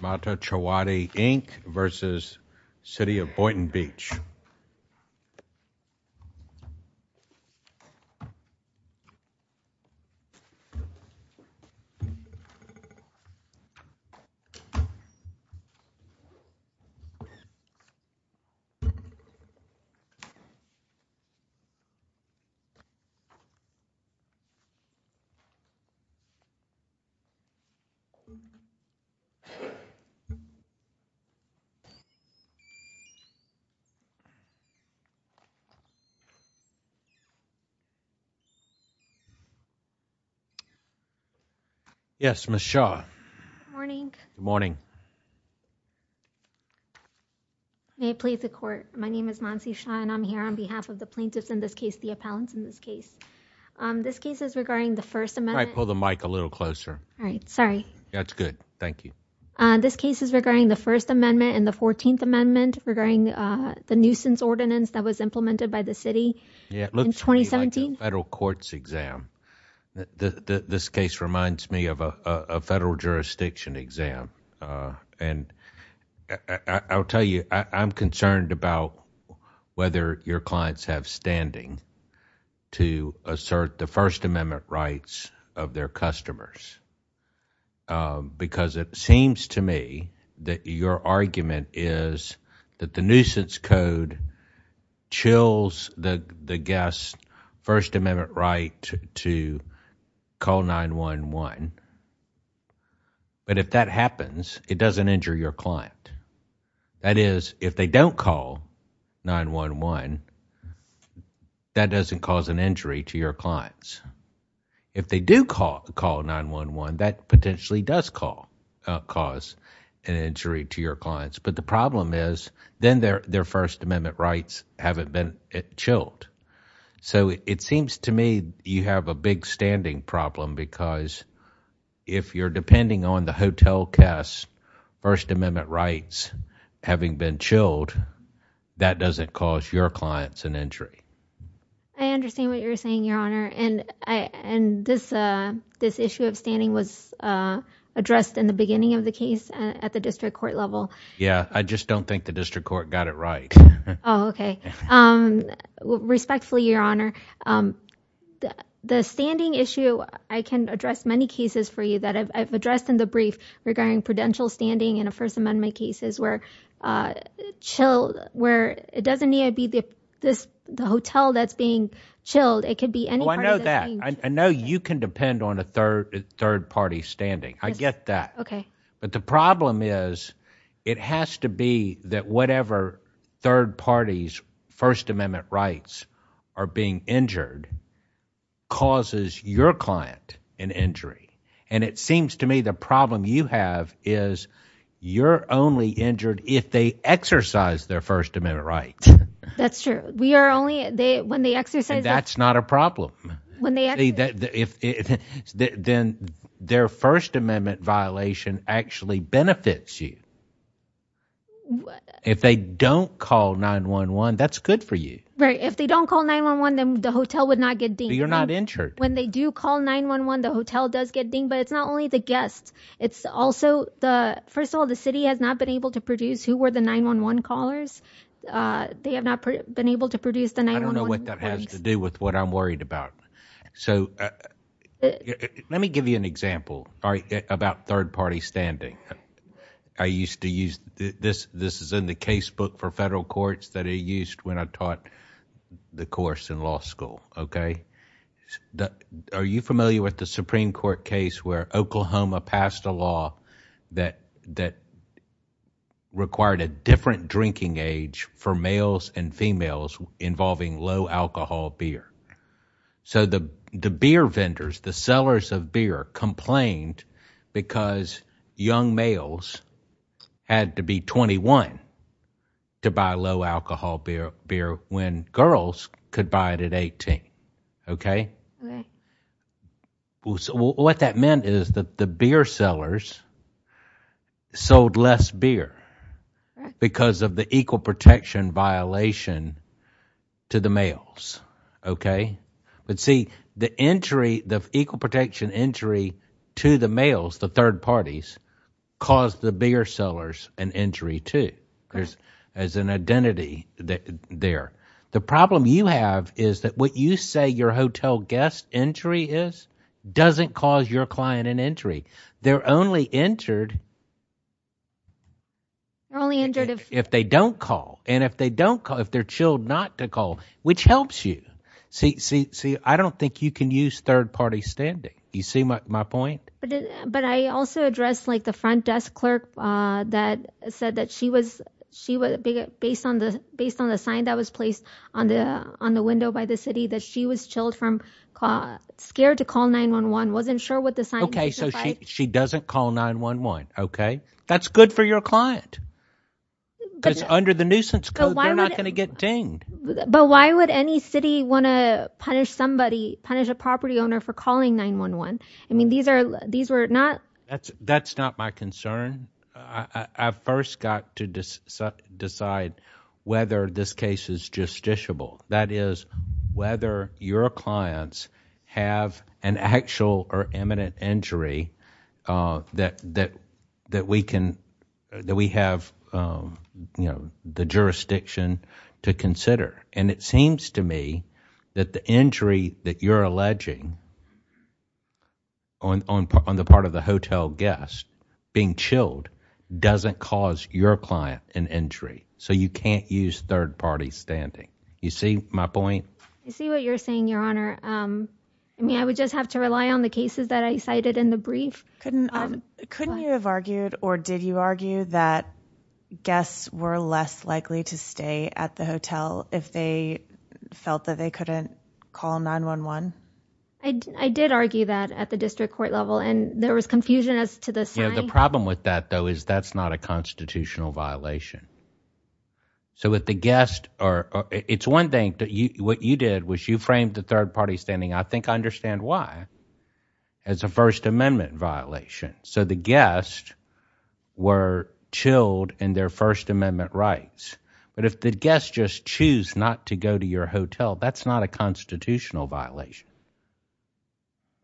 Mata Chowdhury Inc. versus City of Boynton Beach. I'm here on behalf of the plaintiffs in this case, the appellants in this case. This case is regarding the First Amendment and the 14th Amendment regarding the nuisance ordinance that was implemented by the City in 2017. This case reminds me of a federal jurisdiction exam. I'll tell you, I'm concerned about whether your clients have standing to assert the First Amendment rights of their customers. It seems to me that your argument is that the nuisance code chills the guest's First Amendment right to call 911. But if that happens, it doesn't injure your client. That is, if they don't call 911, that doesn't cause an injury to your clients. If they do call 911, that potentially does cause an injury to your clients. But the problem is, then their First Amendment rights haven't been chilled. It seems to me you have a big standing problem because if you're depending on the hotel cast's First Amendment rights having been chilled, that doesn't cause your clients an injury. I understand what you're saying, Your Honor. This issue of standing was addressed in the beginning of the case at the district court level. Yeah. I just don't think the district court got it right. Oh, okay. Respectfully, Your Honor, the standing issue, I can address many cases for you that I've addressed in the brief regarding prudential standing in First Amendment cases where it doesn't need to be the hotel that's being chilled. It could be any part of the thing. Oh, I know that. I know you can depend on a third-party standing. I get that. Okay. But the problem is, it has to be that whatever third-party's First Amendment rights are being injured causes your client an injury. And it seems to me the problem you have is you're only injured if they exercise their First Amendment rights. That's true. We are only, when they exercise their- That's not a problem. When they actually- See, then their First Amendment violation actually benefits you. If they don't call 911, that's good for you. Right. If they don't call 911, then the hotel would not get dinged. You're not injured. When they do call 911, the hotel does get dinged, but it's not only the guests. It's also the, first of all, the city has not been able to produce who were the 911 callers. They have not been able to produce the 911 inquiries. I don't know what that has to do with what I'm worried about. So let me give you an example about third-party standing. I used to use, this is in the case book for federal courts that I used when I taught the course in law school, okay? Are you familiar with the Supreme Court case where Oklahoma passed a law that required a different drinking age for males and females involving low alcohol beer? So the beer vendors, the sellers of beer complained because young males had to be 21 to buy low alcohol beer when girls could buy it at 18, okay? What that meant is that the beer sellers sold less beer because of the equal protection violation to the males, okay? But see, the equal protection injury to the males, the third parties, caused the beer sellers an injury, too, as an identity there. The problem you have is that what you say your hotel guest injury is doesn't cause your client an injury. They're only injured if they don't call, and if they're chilled not to call, which helps you. See, I don't think you can use third-party standing. You see my point? But I also addressed the front desk clerk that said that she was, based on the sign that was placed on the window by the city, that she was chilled from, scared to call 911, wasn't sure what the sign meant. Okay, so she doesn't call 911, okay? That's good for your client. It's under the nuisance code. They're not going to get dinged. But why would any city want to punish somebody, punish a property owner for calling 911? I mean, these are, these were not... That's not my concern. I first got to decide whether this case is justiciable, that is, whether your clients have an actual or imminent injury that we can, that we have, you know, the jurisdiction to consider. And it seems to me that the injury that you're alleging on the part of the hotel guest, being chilled, doesn't cause your client an injury. So you can't use third-party standing. You see my point? I see what you're saying, Your Honor. I mean, I would just have to rely on the cases that I cited in the brief. Couldn't you have argued, or did you argue, that guests were less likely to stay at the hotel if they felt that they couldn't call 911? I did argue that at the district court level, and there was confusion as to the sign. Yeah, the problem with that, though, is that's not a constitutional violation. So if the guest, or it's one thing that you, what you did was you framed the third-party standing, I think I understand why, as a First Amendment violation. So the guests were chilled in their First Amendment rights. But if the guests just choose not to go to your hotel, that's not a constitutional violation.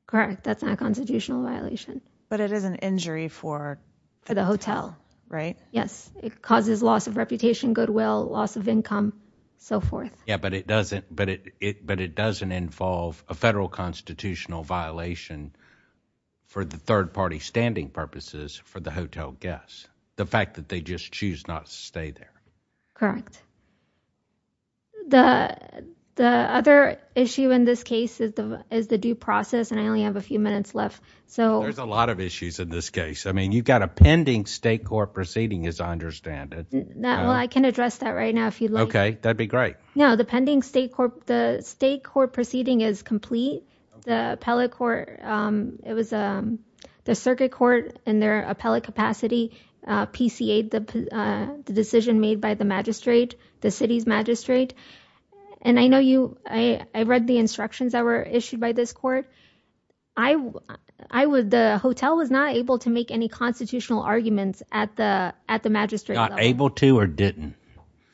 Correct. That's not a constitutional violation. But it is an injury for the hotel, right? Yes. It causes loss of reputation, goodwill, loss of income, so forth. Yeah, but it doesn't involve a federal constitutional violation for the third-party standing purposes for the hotel guests. The fact that they just choose not to stay there. Correct. The other issue in this case is the due process, and I only have a few minutes left. So — There's a lot of issues in this case. I mean, you've got a pending state court proceeding, as I understand it. Well, I can address that right now if you'd like. Okay. That'd be great. No, the pending state court, the state court proceeding is complete. The appellate court — it was the circuit court in their appellate capacity PCA-ed the decision made by the magistrate, the city's magistrate. And I know you — I read the instructions that were issued by this court. The hotel was not able to make any constitutional arguments at the magistrate level. Not able to or didn't?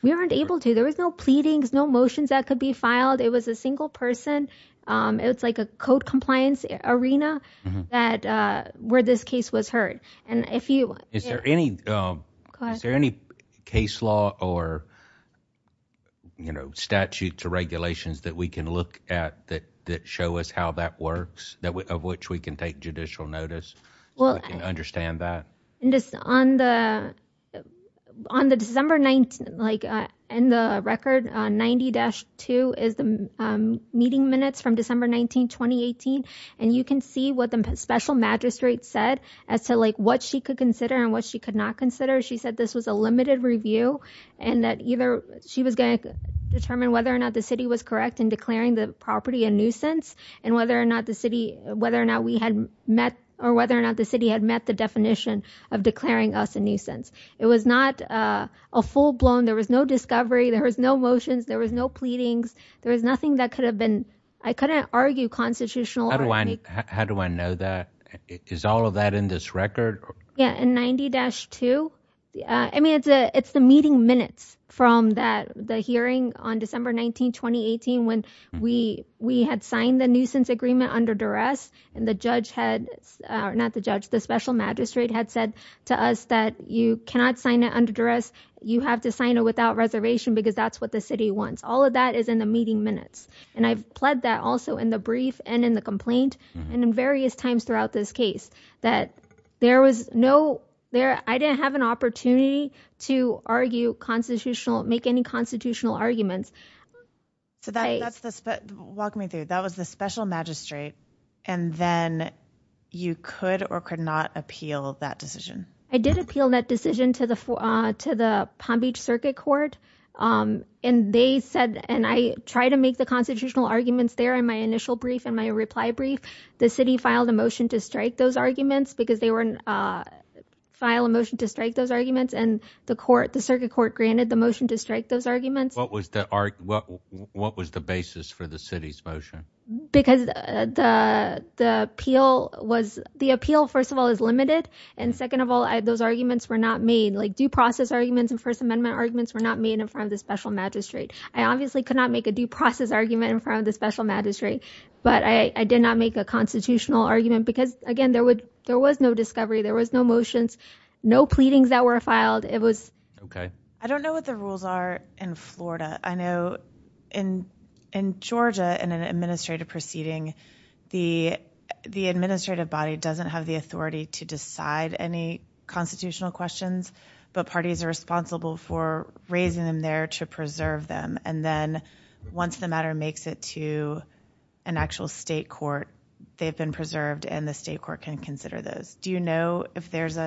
We weren't able to. There was no pleadings, no motions that could be filed. It was a single person. It was like a code compliance arena that — where this case was heard. And if you — Is there any — Go ahead. Is there any case law or, you know, statute to regulations that we can look at that show us how that works, of which we can take judicial notice, so we can understand that? On the December — like, in the record, 90-2 is the meeting minutes from December 19, 2018. And you can see what the special magistrate said as to, like, what she could consider and what she could not consider. She said this was a limited review and that either she was going to determine whether or not the city was correct in declaring the property a nuisance and whether or not the city had met the definition of declaring us a nuisance. It was not a full-blown — there was no discovery. There was no motions. There was no pleadings. There was nothing that could have been — I couldn't argue constitutional — How do I know that? Is all of that in this record? Yeah. In 90-2? I mean, it's the meeting minutes from that — the hearing on December 19, 2018, when we had signed the nuisance agreement under duress, and the judge had — or not the judge, the special magistrate had said to us that you cannot sign it under duress. You have to sign it without reservation because that's what the city wants. All of that is in the meeting minutes. And I've pled that also in the brief and in the complaint and in various times throughout this case, that there was no — I didn't have an opportunity to argue constitutional — make any constitutional arguments. So that's the — walk me through. That was the special magistrate, and then you could or could not appeal that decision? I did appeal that decision to the Palm Beach Circuit Court, and they said — and I tried to make the constitutional arguments there in my initial brief and my reply brief. The city filed a motion to strike those arguments because they were — filed a motion to strike those arguments, and the court — the circuit court granted the motion to strike those arguments. What was the — what was the basis for the city's motion? Because the appeal was — the appeal, first of all, is limited, and second of all, those arguments were not made. Like due process arguments and First Amendment arguments were not made in front of the special magistrate. I obviously could not make a due process argument in front of the special magistrate, but I did not make a constitutional argument because, again, there would — there was no discovery. There was no motions, no pleadings that were filed. It was — OK. I don't know what the rules are in Florida. I know in Georgia, in an administrative proceeding, the administrative body doesn't have the authority to decide any constitutional questions, but parties are responsible for raising them there to preserve them, and then once the matter makes it to an actual state court, they've been preserved and the state court can consider those. Do you know if there's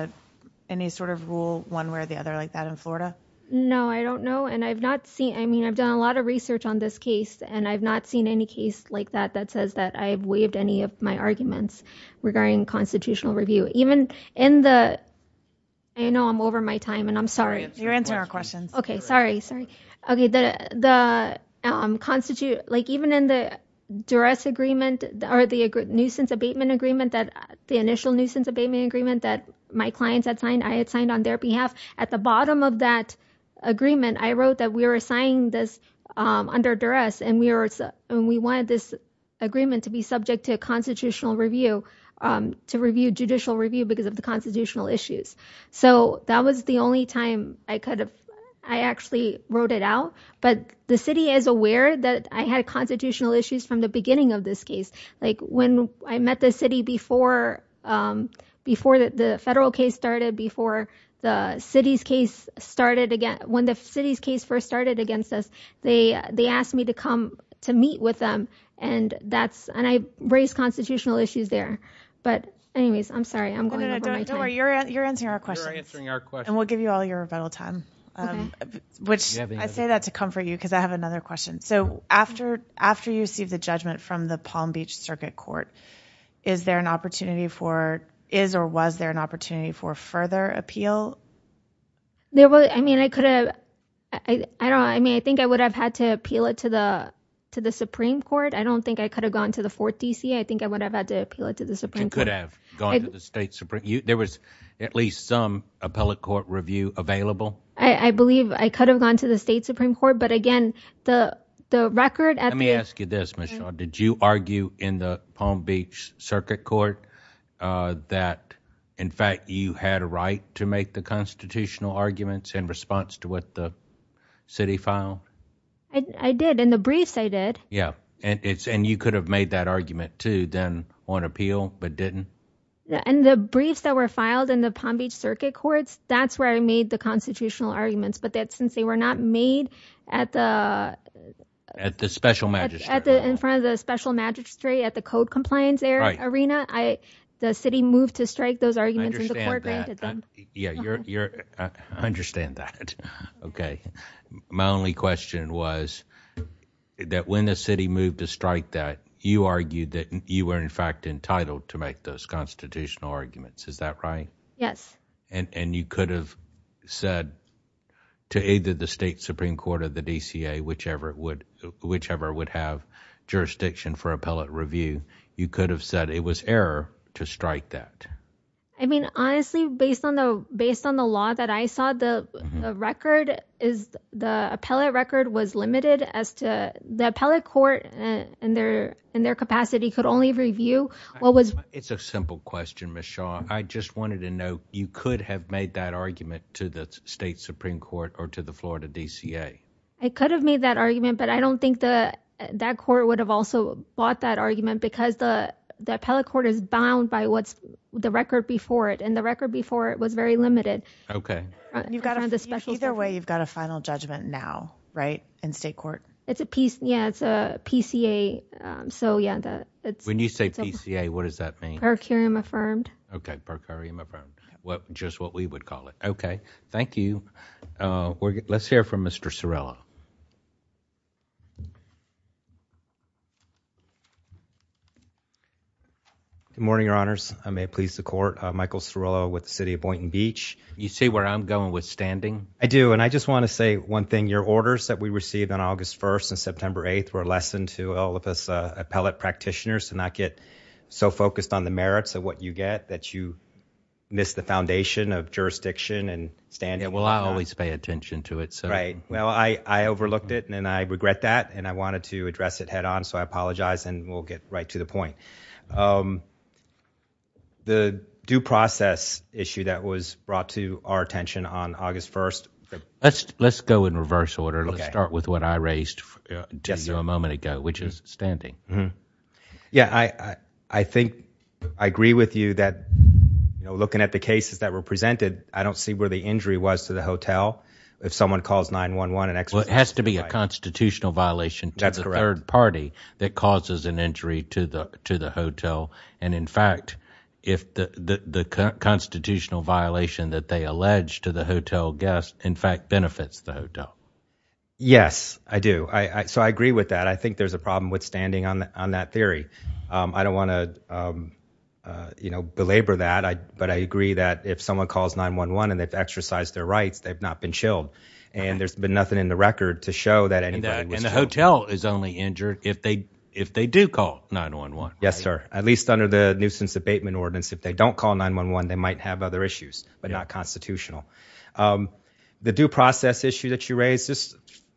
any sort of rule, one way or the other, like that in Florida? No, I don't know, and I've not seen — I mean, I've done a lot of research on this case, and I've not seen any case like that that says that I've waived any of my arguments regarding constitutional review. Even in the — I know I'm over my time, and I'm sorry — You're answering our questions. OK. Sorry. Sorry. OK. The — like, even in the duress agreement, or the nuisance abatement agreement, the initial nuisance abatement agreement that my clients had signed, I had signed on their behalf. At the bottom of that agreement, I wrote that we were signing this under duress and we wanted this agreement to be subject to a constitutional review, to review judicial review because of the constitutional issues. So that was the only time I could have — I actually wrote it out, but the city is aware that I had constitutional issues from the beginning of this case. Like, when I met the city before the federal case started, before the city's case started — when the city's case first started against us, they asked me to come to meet with them, and that's — and I raised constitutional issues there. But anyways, I'm sorry. I'm going over my time. No, no, no. Don't worry. You're answering our questions. You're answering our questions. And we'll give you all your rebuttal time. OK. Which — I say that to comfort you because I have another question. So after you received the judgment from the Palm Beach Circuit Court, is there an opportunity for — is or was there an opportunity for further appeal? There was — I mean, I could have — I don't — I mean, I think I would have had to appeal it to the Supreme Court. I don't think I could have gone to the 4th D.C. I think I would have had to appeal it to the Supreme Court. But you could have gone to the State Supreme — there was at least some appellate court review available? I believe I could have gone to the State Supreme Court. But again, the record at the — Let me ask you this, Michelle. Did you argue in the Palm Beach Circuit Court that, in fact, you had a right to make the constitutional arguments in response to what the city filed? I did. In the briefs, I did. Yeah. And you could have made that argument, too, then on appeal, but didn't? In the briefs that were filed in the Palm Beach Circuit Courts, that's where I made the constitutional arguments. But since they were not made at the — At the special magistrate. At the — in front of the special magistrate at the code compliance arena, I — the city moved to strike those arguments and the court granted them. I understand that. Yeah. You're — I understand that. Okay. My only question was that when the city moved to strike that, you argued that you were, in fact, entitled to make those constitutional arguments. Is that right? Yes. And you could have said to either the state supreme court or the DCA, whichever would have jurisdiction for appellate review, you could have said it was error to strike that. I mean, honestly, based on the law that I saw, the record is — the appellate record was limited as to — the appellate court, in their capacity, could only review what was — It's a simple question, Ms. Shaw. I just wanted to know, you could have made that argument to the state supreme court or to the Florida DCA. I could have made that argument, but I don't think that court would have also bought that argument because the appellate court is bound by what's — the record before it. And the record before it was very limited. In front of the special — You've got a — either way, you've got a final judgment now, right? In state court. It's a piece — yeah, it's a PCA. So yeah, the — When you say PCA, what does that mean? Per curiam affirmed. Okay. Per curiam affirmed. Well, just what we would call it. Okay. Thank you. We're — let's hear from Mr. Cirillo. Good morning, Your Honors. I may please the court. Michael Cirillo with the City of Boynton Beach. You see where I'm going with standing? I do. And I just want to say one thing. Your orders that we received on August 1st and September 8th were a lesson to all of us appellate practitioners to not get so focused on the merits of what you get that you miss the foundation of jurisdiction and standing. Yeah, well, I always pay attention to it, so — Right. Well, I overlooked it, and I regret that, and I wanted to address it head on, so I apologize, and we'll get right to the point. The due process issue that was brought to our attention on August 1st — Let's go in reverse order. Okay. Let's start with what I raised — Yes, sir. — to you a moment ago, which is standing. Yeah, I think — I agree with you that, you know, looking at the cases that were presented, I don't see where the injury was to the hotel. If someone calls 9-1-1 and asks — Well, it has to be a constitutional violation — That's correct. — to the third party that causes an injury to the hotel, and, in fact, if the constitutional violation that they allege to the hotel guests, in fact, benefits the hotel. Yes, I do. So I agree with that. I think there's a problem with standing on that theory. I don't want to, you know, belabor that, but I agree that if someone calls 9-1-1 and they've exercised their rights, they've not been chilled, and there's been nothing in the record to show that anybody was chilled. And the hotel is only injured if they do call 9-1-1, right? Yes, sir. At least under the nuisance abatement ordinance, if they don't call 9-1-1, they might have other issues, but not constitutional. The due process issue that you raised,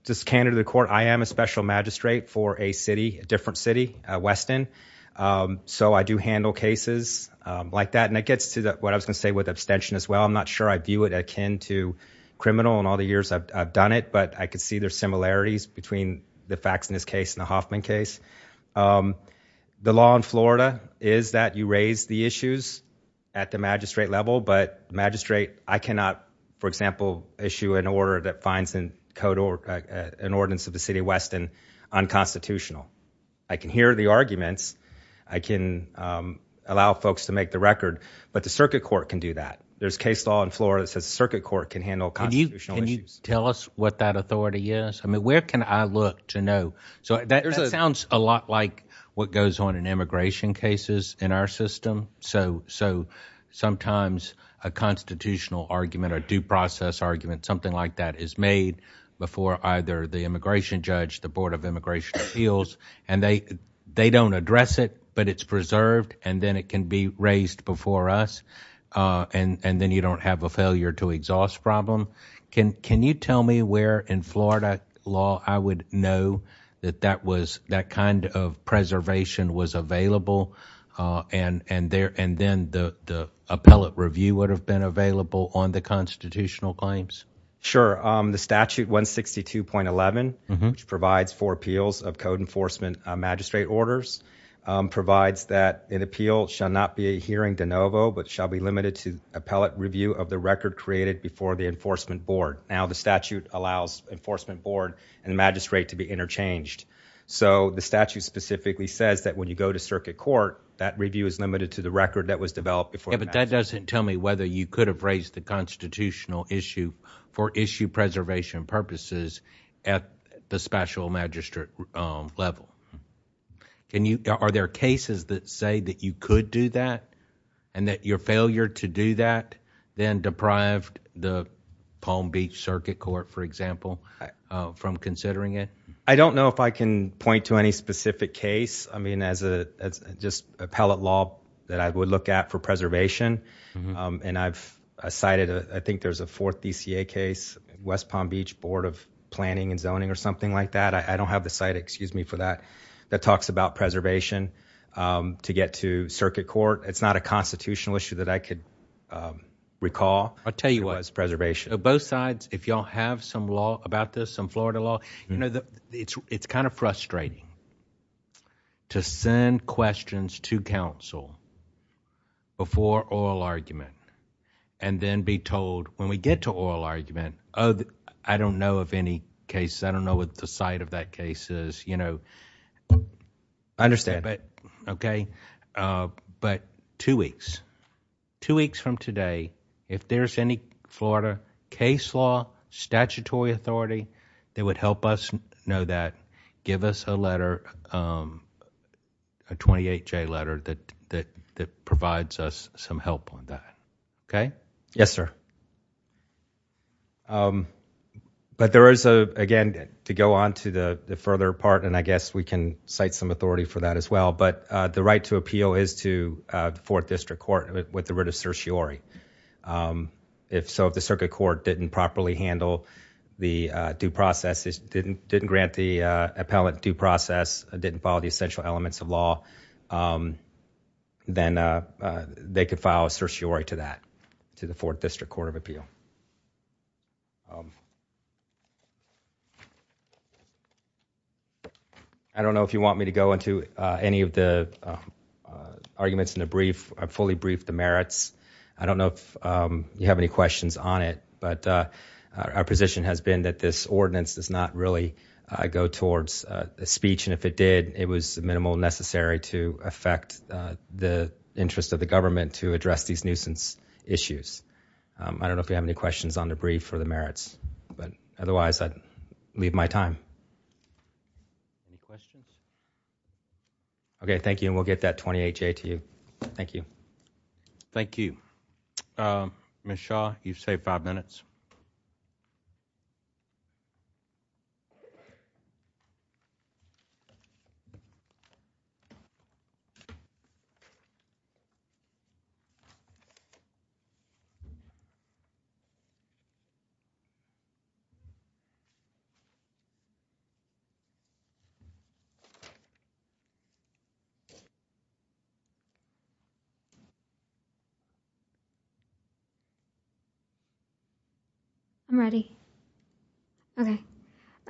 just candid to the court, I am a special magistrate for a city, a different city, Weston, so I do handle cases like that, and it gets to what I was going to say with abstention as well. I'm not sure I view it akin to criminal in all the years I've done it, but I could see there's similarities between the facts in this case and the Hoffman case. The law in Florida is that you raise the issues at the magistrate level, but magistrate, I cannot, for example, issue an order that finds an ordinance of the city of Weston unconstitutional. I can hear the arguments, I can allow folks to make the record, but the circuit court can do that. There's case law in Florida that says the circuit court can handle constitutional issues. Can you tell us what that authority is? I mean, where can I look to know? So that sounds a lot like what goes on in immigration cases in our system, so sometimes a constitutional argument, a due process argument, something like that is made before either the immigration judge, the Board of Immigration Appeals, and they don't address it, but it's preserved and then it can be raised before us, and then you don't have a failure to exhaust problem. Can you tell me where in Florida law I would know that that kind of preservation was available, and then the appellate review would have been available on the constitutional claims? Sure. The statute 162.11, which provides for appeals of code enforcement magistrate orders, provides that an appeal shall not be a hearing de novo, but shall be limited to appellate review of the record created before the enforcement board. Now the statute allows enforcement board and magistrate to be interchanged, so the statute specifically says that when you go to circuit court, that review is limited to the record that was developed before. Yeah, but that doesn't tell me whether you could have raised the constitutional issue for issue preservation purposes at the special magistrate level. Are there cases that say that you could do that, and that your failure to do that then deprived the Palm Beach Circuit Court, for example, from considering it? I don't know if I can point to any specific case. I mean, as just appellate law that I would look at for preservation, and I've cited, I think there's a fourth DCA case, West Palm Beach Board of Planning and Zoning or something like that. I don't have the site, excuse me for that, that talks about preservation to get to circuit court. It's not a constitutional issue that I could recall as preservation. Both sides, if y'all have some law about this, some Florida law, it's kind of frustrating to send questions to counsel before oral argument, and then be told when we get to oral argument, oh, I don't know of any case, I don't know what the site of that case is, you know. I understand. Okay. But two weeks. Two weeks from today, if there's any Florida case law, statutory authority that would help us know that, give us a letter, a 28-J letter that provides us some help on that. Okay? Yes, sir. But there is, again, to go on to the further part, and I guess we can cite some authority for that as well, but the right to appeal is to the 4th District Court with the writ of certiorari. If so, if the circuit court didn't properly handle the due process, didn't grant the appellant due process, didn't follow the essential elements of law, then they could file a certiorari to that, to the 4th District Court of Appeal. Thank you. I don't know if you want me to go into any of the arguments in the brief, fully brief the merits. I don't know if you have any questions on it, but our position has been that this ordinance does not really go towards a speech, and if it did, it was minimal necessary to affect the interest of the government to address these nuisance issues. I don't know if you have any questions on the brief or the merits, but otherwise I'd leave my time. Any questions? Okay, thank you, and we'll get that 28-J to you. Thank you. Thank you. Ms. Shaw, you've saved five minutes. Ms. Shaw, you've saved five minutes. I'm ready. Okay.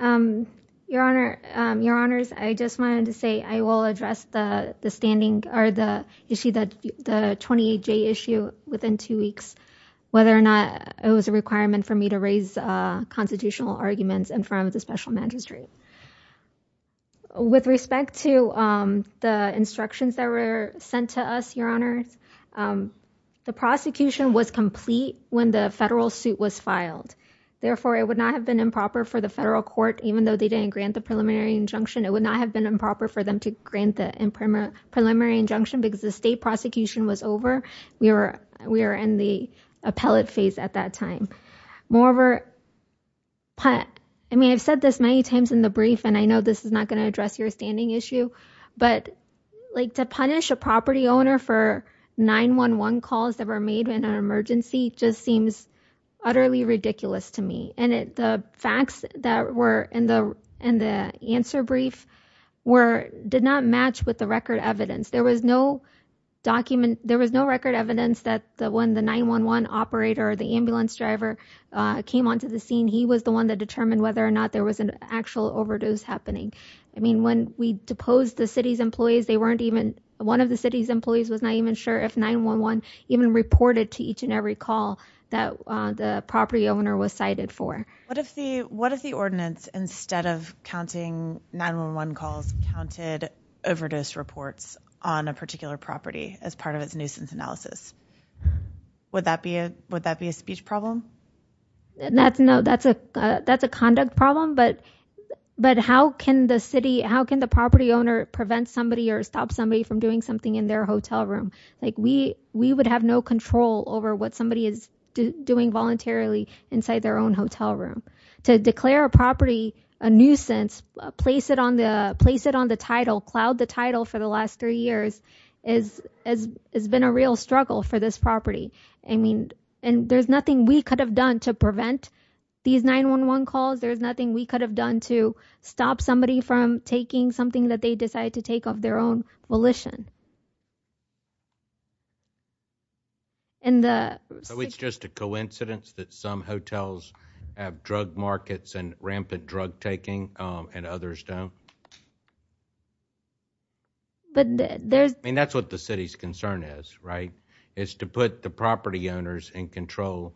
Your Honor, your Honors, I just wanted to say I will address the standing, or the issue that the 28-J issue within two weeks, whether or not it was a requirement for me to raise constitutional arguments in front of the special magistrate. With respect to the instructions that were sent to us, your Honors, the prosecution was complete when the federal suit was filed, therefore it would not have been improper for the federal court, even though they didn't grant the preliminary injunction, it would not have been improper for them to grant the preliminary injunction because the state prosecution was over. We were in the appellate phase at that time. Moreover, I mean, I've said this many times in the brief, and I know this is not going to address your standing issue, but to punish a property owner for 911 calls that were made in an emergency just seems utterly ridiculous to me. And the facts that were in the answer brief did not match with the record evidence. There was no document, there was no record evidence that when the 911 operator, the ambulance driver came onto the scene, he was the one that determined whether or not there was an actual overdose happening. I mean, when we deposed the city's employees, they weren't even, one of the city's employees was not even sure if 911 even reported to each and every call that the property owner was cited for. What if the ordinance, instead of counting 911 calls, counted overdose reports on a particular property as part of its nuisance analysis? Would that be a speech problem? No, that's a conduct problem, but how can the city, how can the property owner prevent somebody or stop somebody from doing something in their hotel room? We would have no control over what somebody is doing voluntarily inside their own hotel room. To declare a property a nuisance, place it on the title, cloud the title for the last three years, has been a real struggle for this property. And there's nothing we could have done to prevent these 911 calls. There's nothing we could have done to stop somebody from taking something that they decided to take of their own volition. And the- So it's just a coincidence that some hotels have drug markets and rampant drug taking and others don't? But there's- I mean, that's what the city's concern is, right? Is to put the property owners in control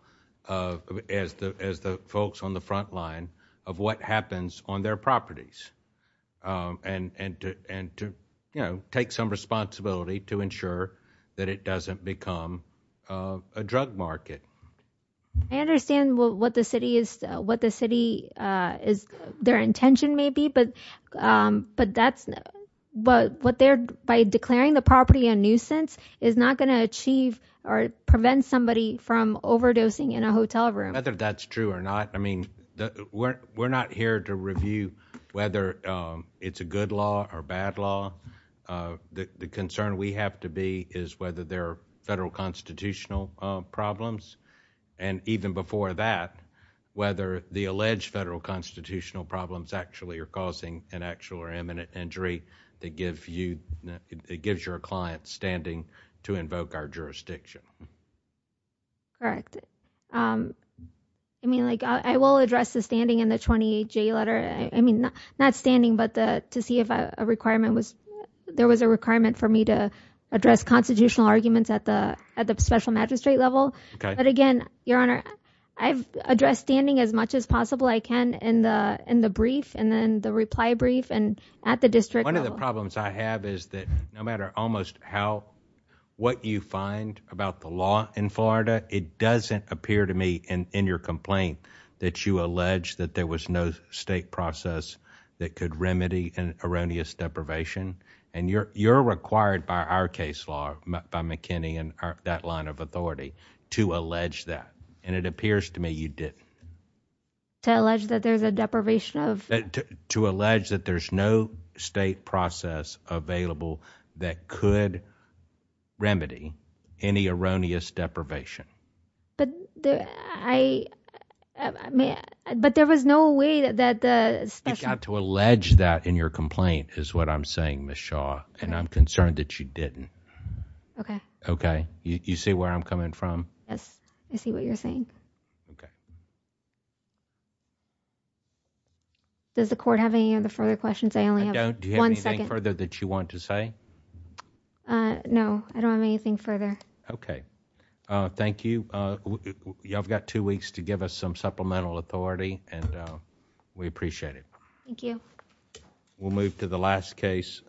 as the folks on the front line of what happens on their properties. And to, you know, take some responsibility to ensure that it doesn't become a drug market. I understand what the city is, what the city is, their intention may be, but that's, what they're, by declaring the property a nuisance is not going to achieve or prevent somebody from overdosing in a hotel room. Whether that's true or not, I mean, we're not here to review whether it's a good law or bad law. The concern we have to be is whether there are federal constitutional problems. And even before that, whether the alleged federal constitutional problems actually are causing an actual or imminent injury that gives you, that gives your client standing to invoke our jurisdiction. Correct. And I mean, like, I will address the standing in the 28-J letter, I mean, not standing, but to see if a requirement was, there was a requirement for me to address constitutional arguments at the special magistrate level. But again, Your Honor, I've addressed standing as much as possible I can in the brief and then the reply brief and at the district level. One of the problems I have is that no matter almost how, what you find about the law in your complaint, it doesn't appear to me in your complaint that you allege that there was no state process that could remedy an erroneous deprivation. And you're required by our case law, by McKinney and that line of authority, to allege that. And it appears to me you didn't. To allege that there's a deprivation of? To allege that there's no state process available that could remedy any erroneous deprivation. But there, I, I mean, but there was no way that, that the special. You got to allege that in your complaint is what I'm saying, Ms. Shaw, and I'm concerned that you didn't. Okay. Okay. You see where I'm coming from? Yes. I see what you're saying. Does the court have any other further questions? I only have one second. Do you have anything further that you want to say? Uh, no. I don't have anything further. Okay. Uh, thank you. Uh, y'all have got two weeks to give us some supplemental authority and, uh, we appreciate it. Thank you. We'll move to the last case.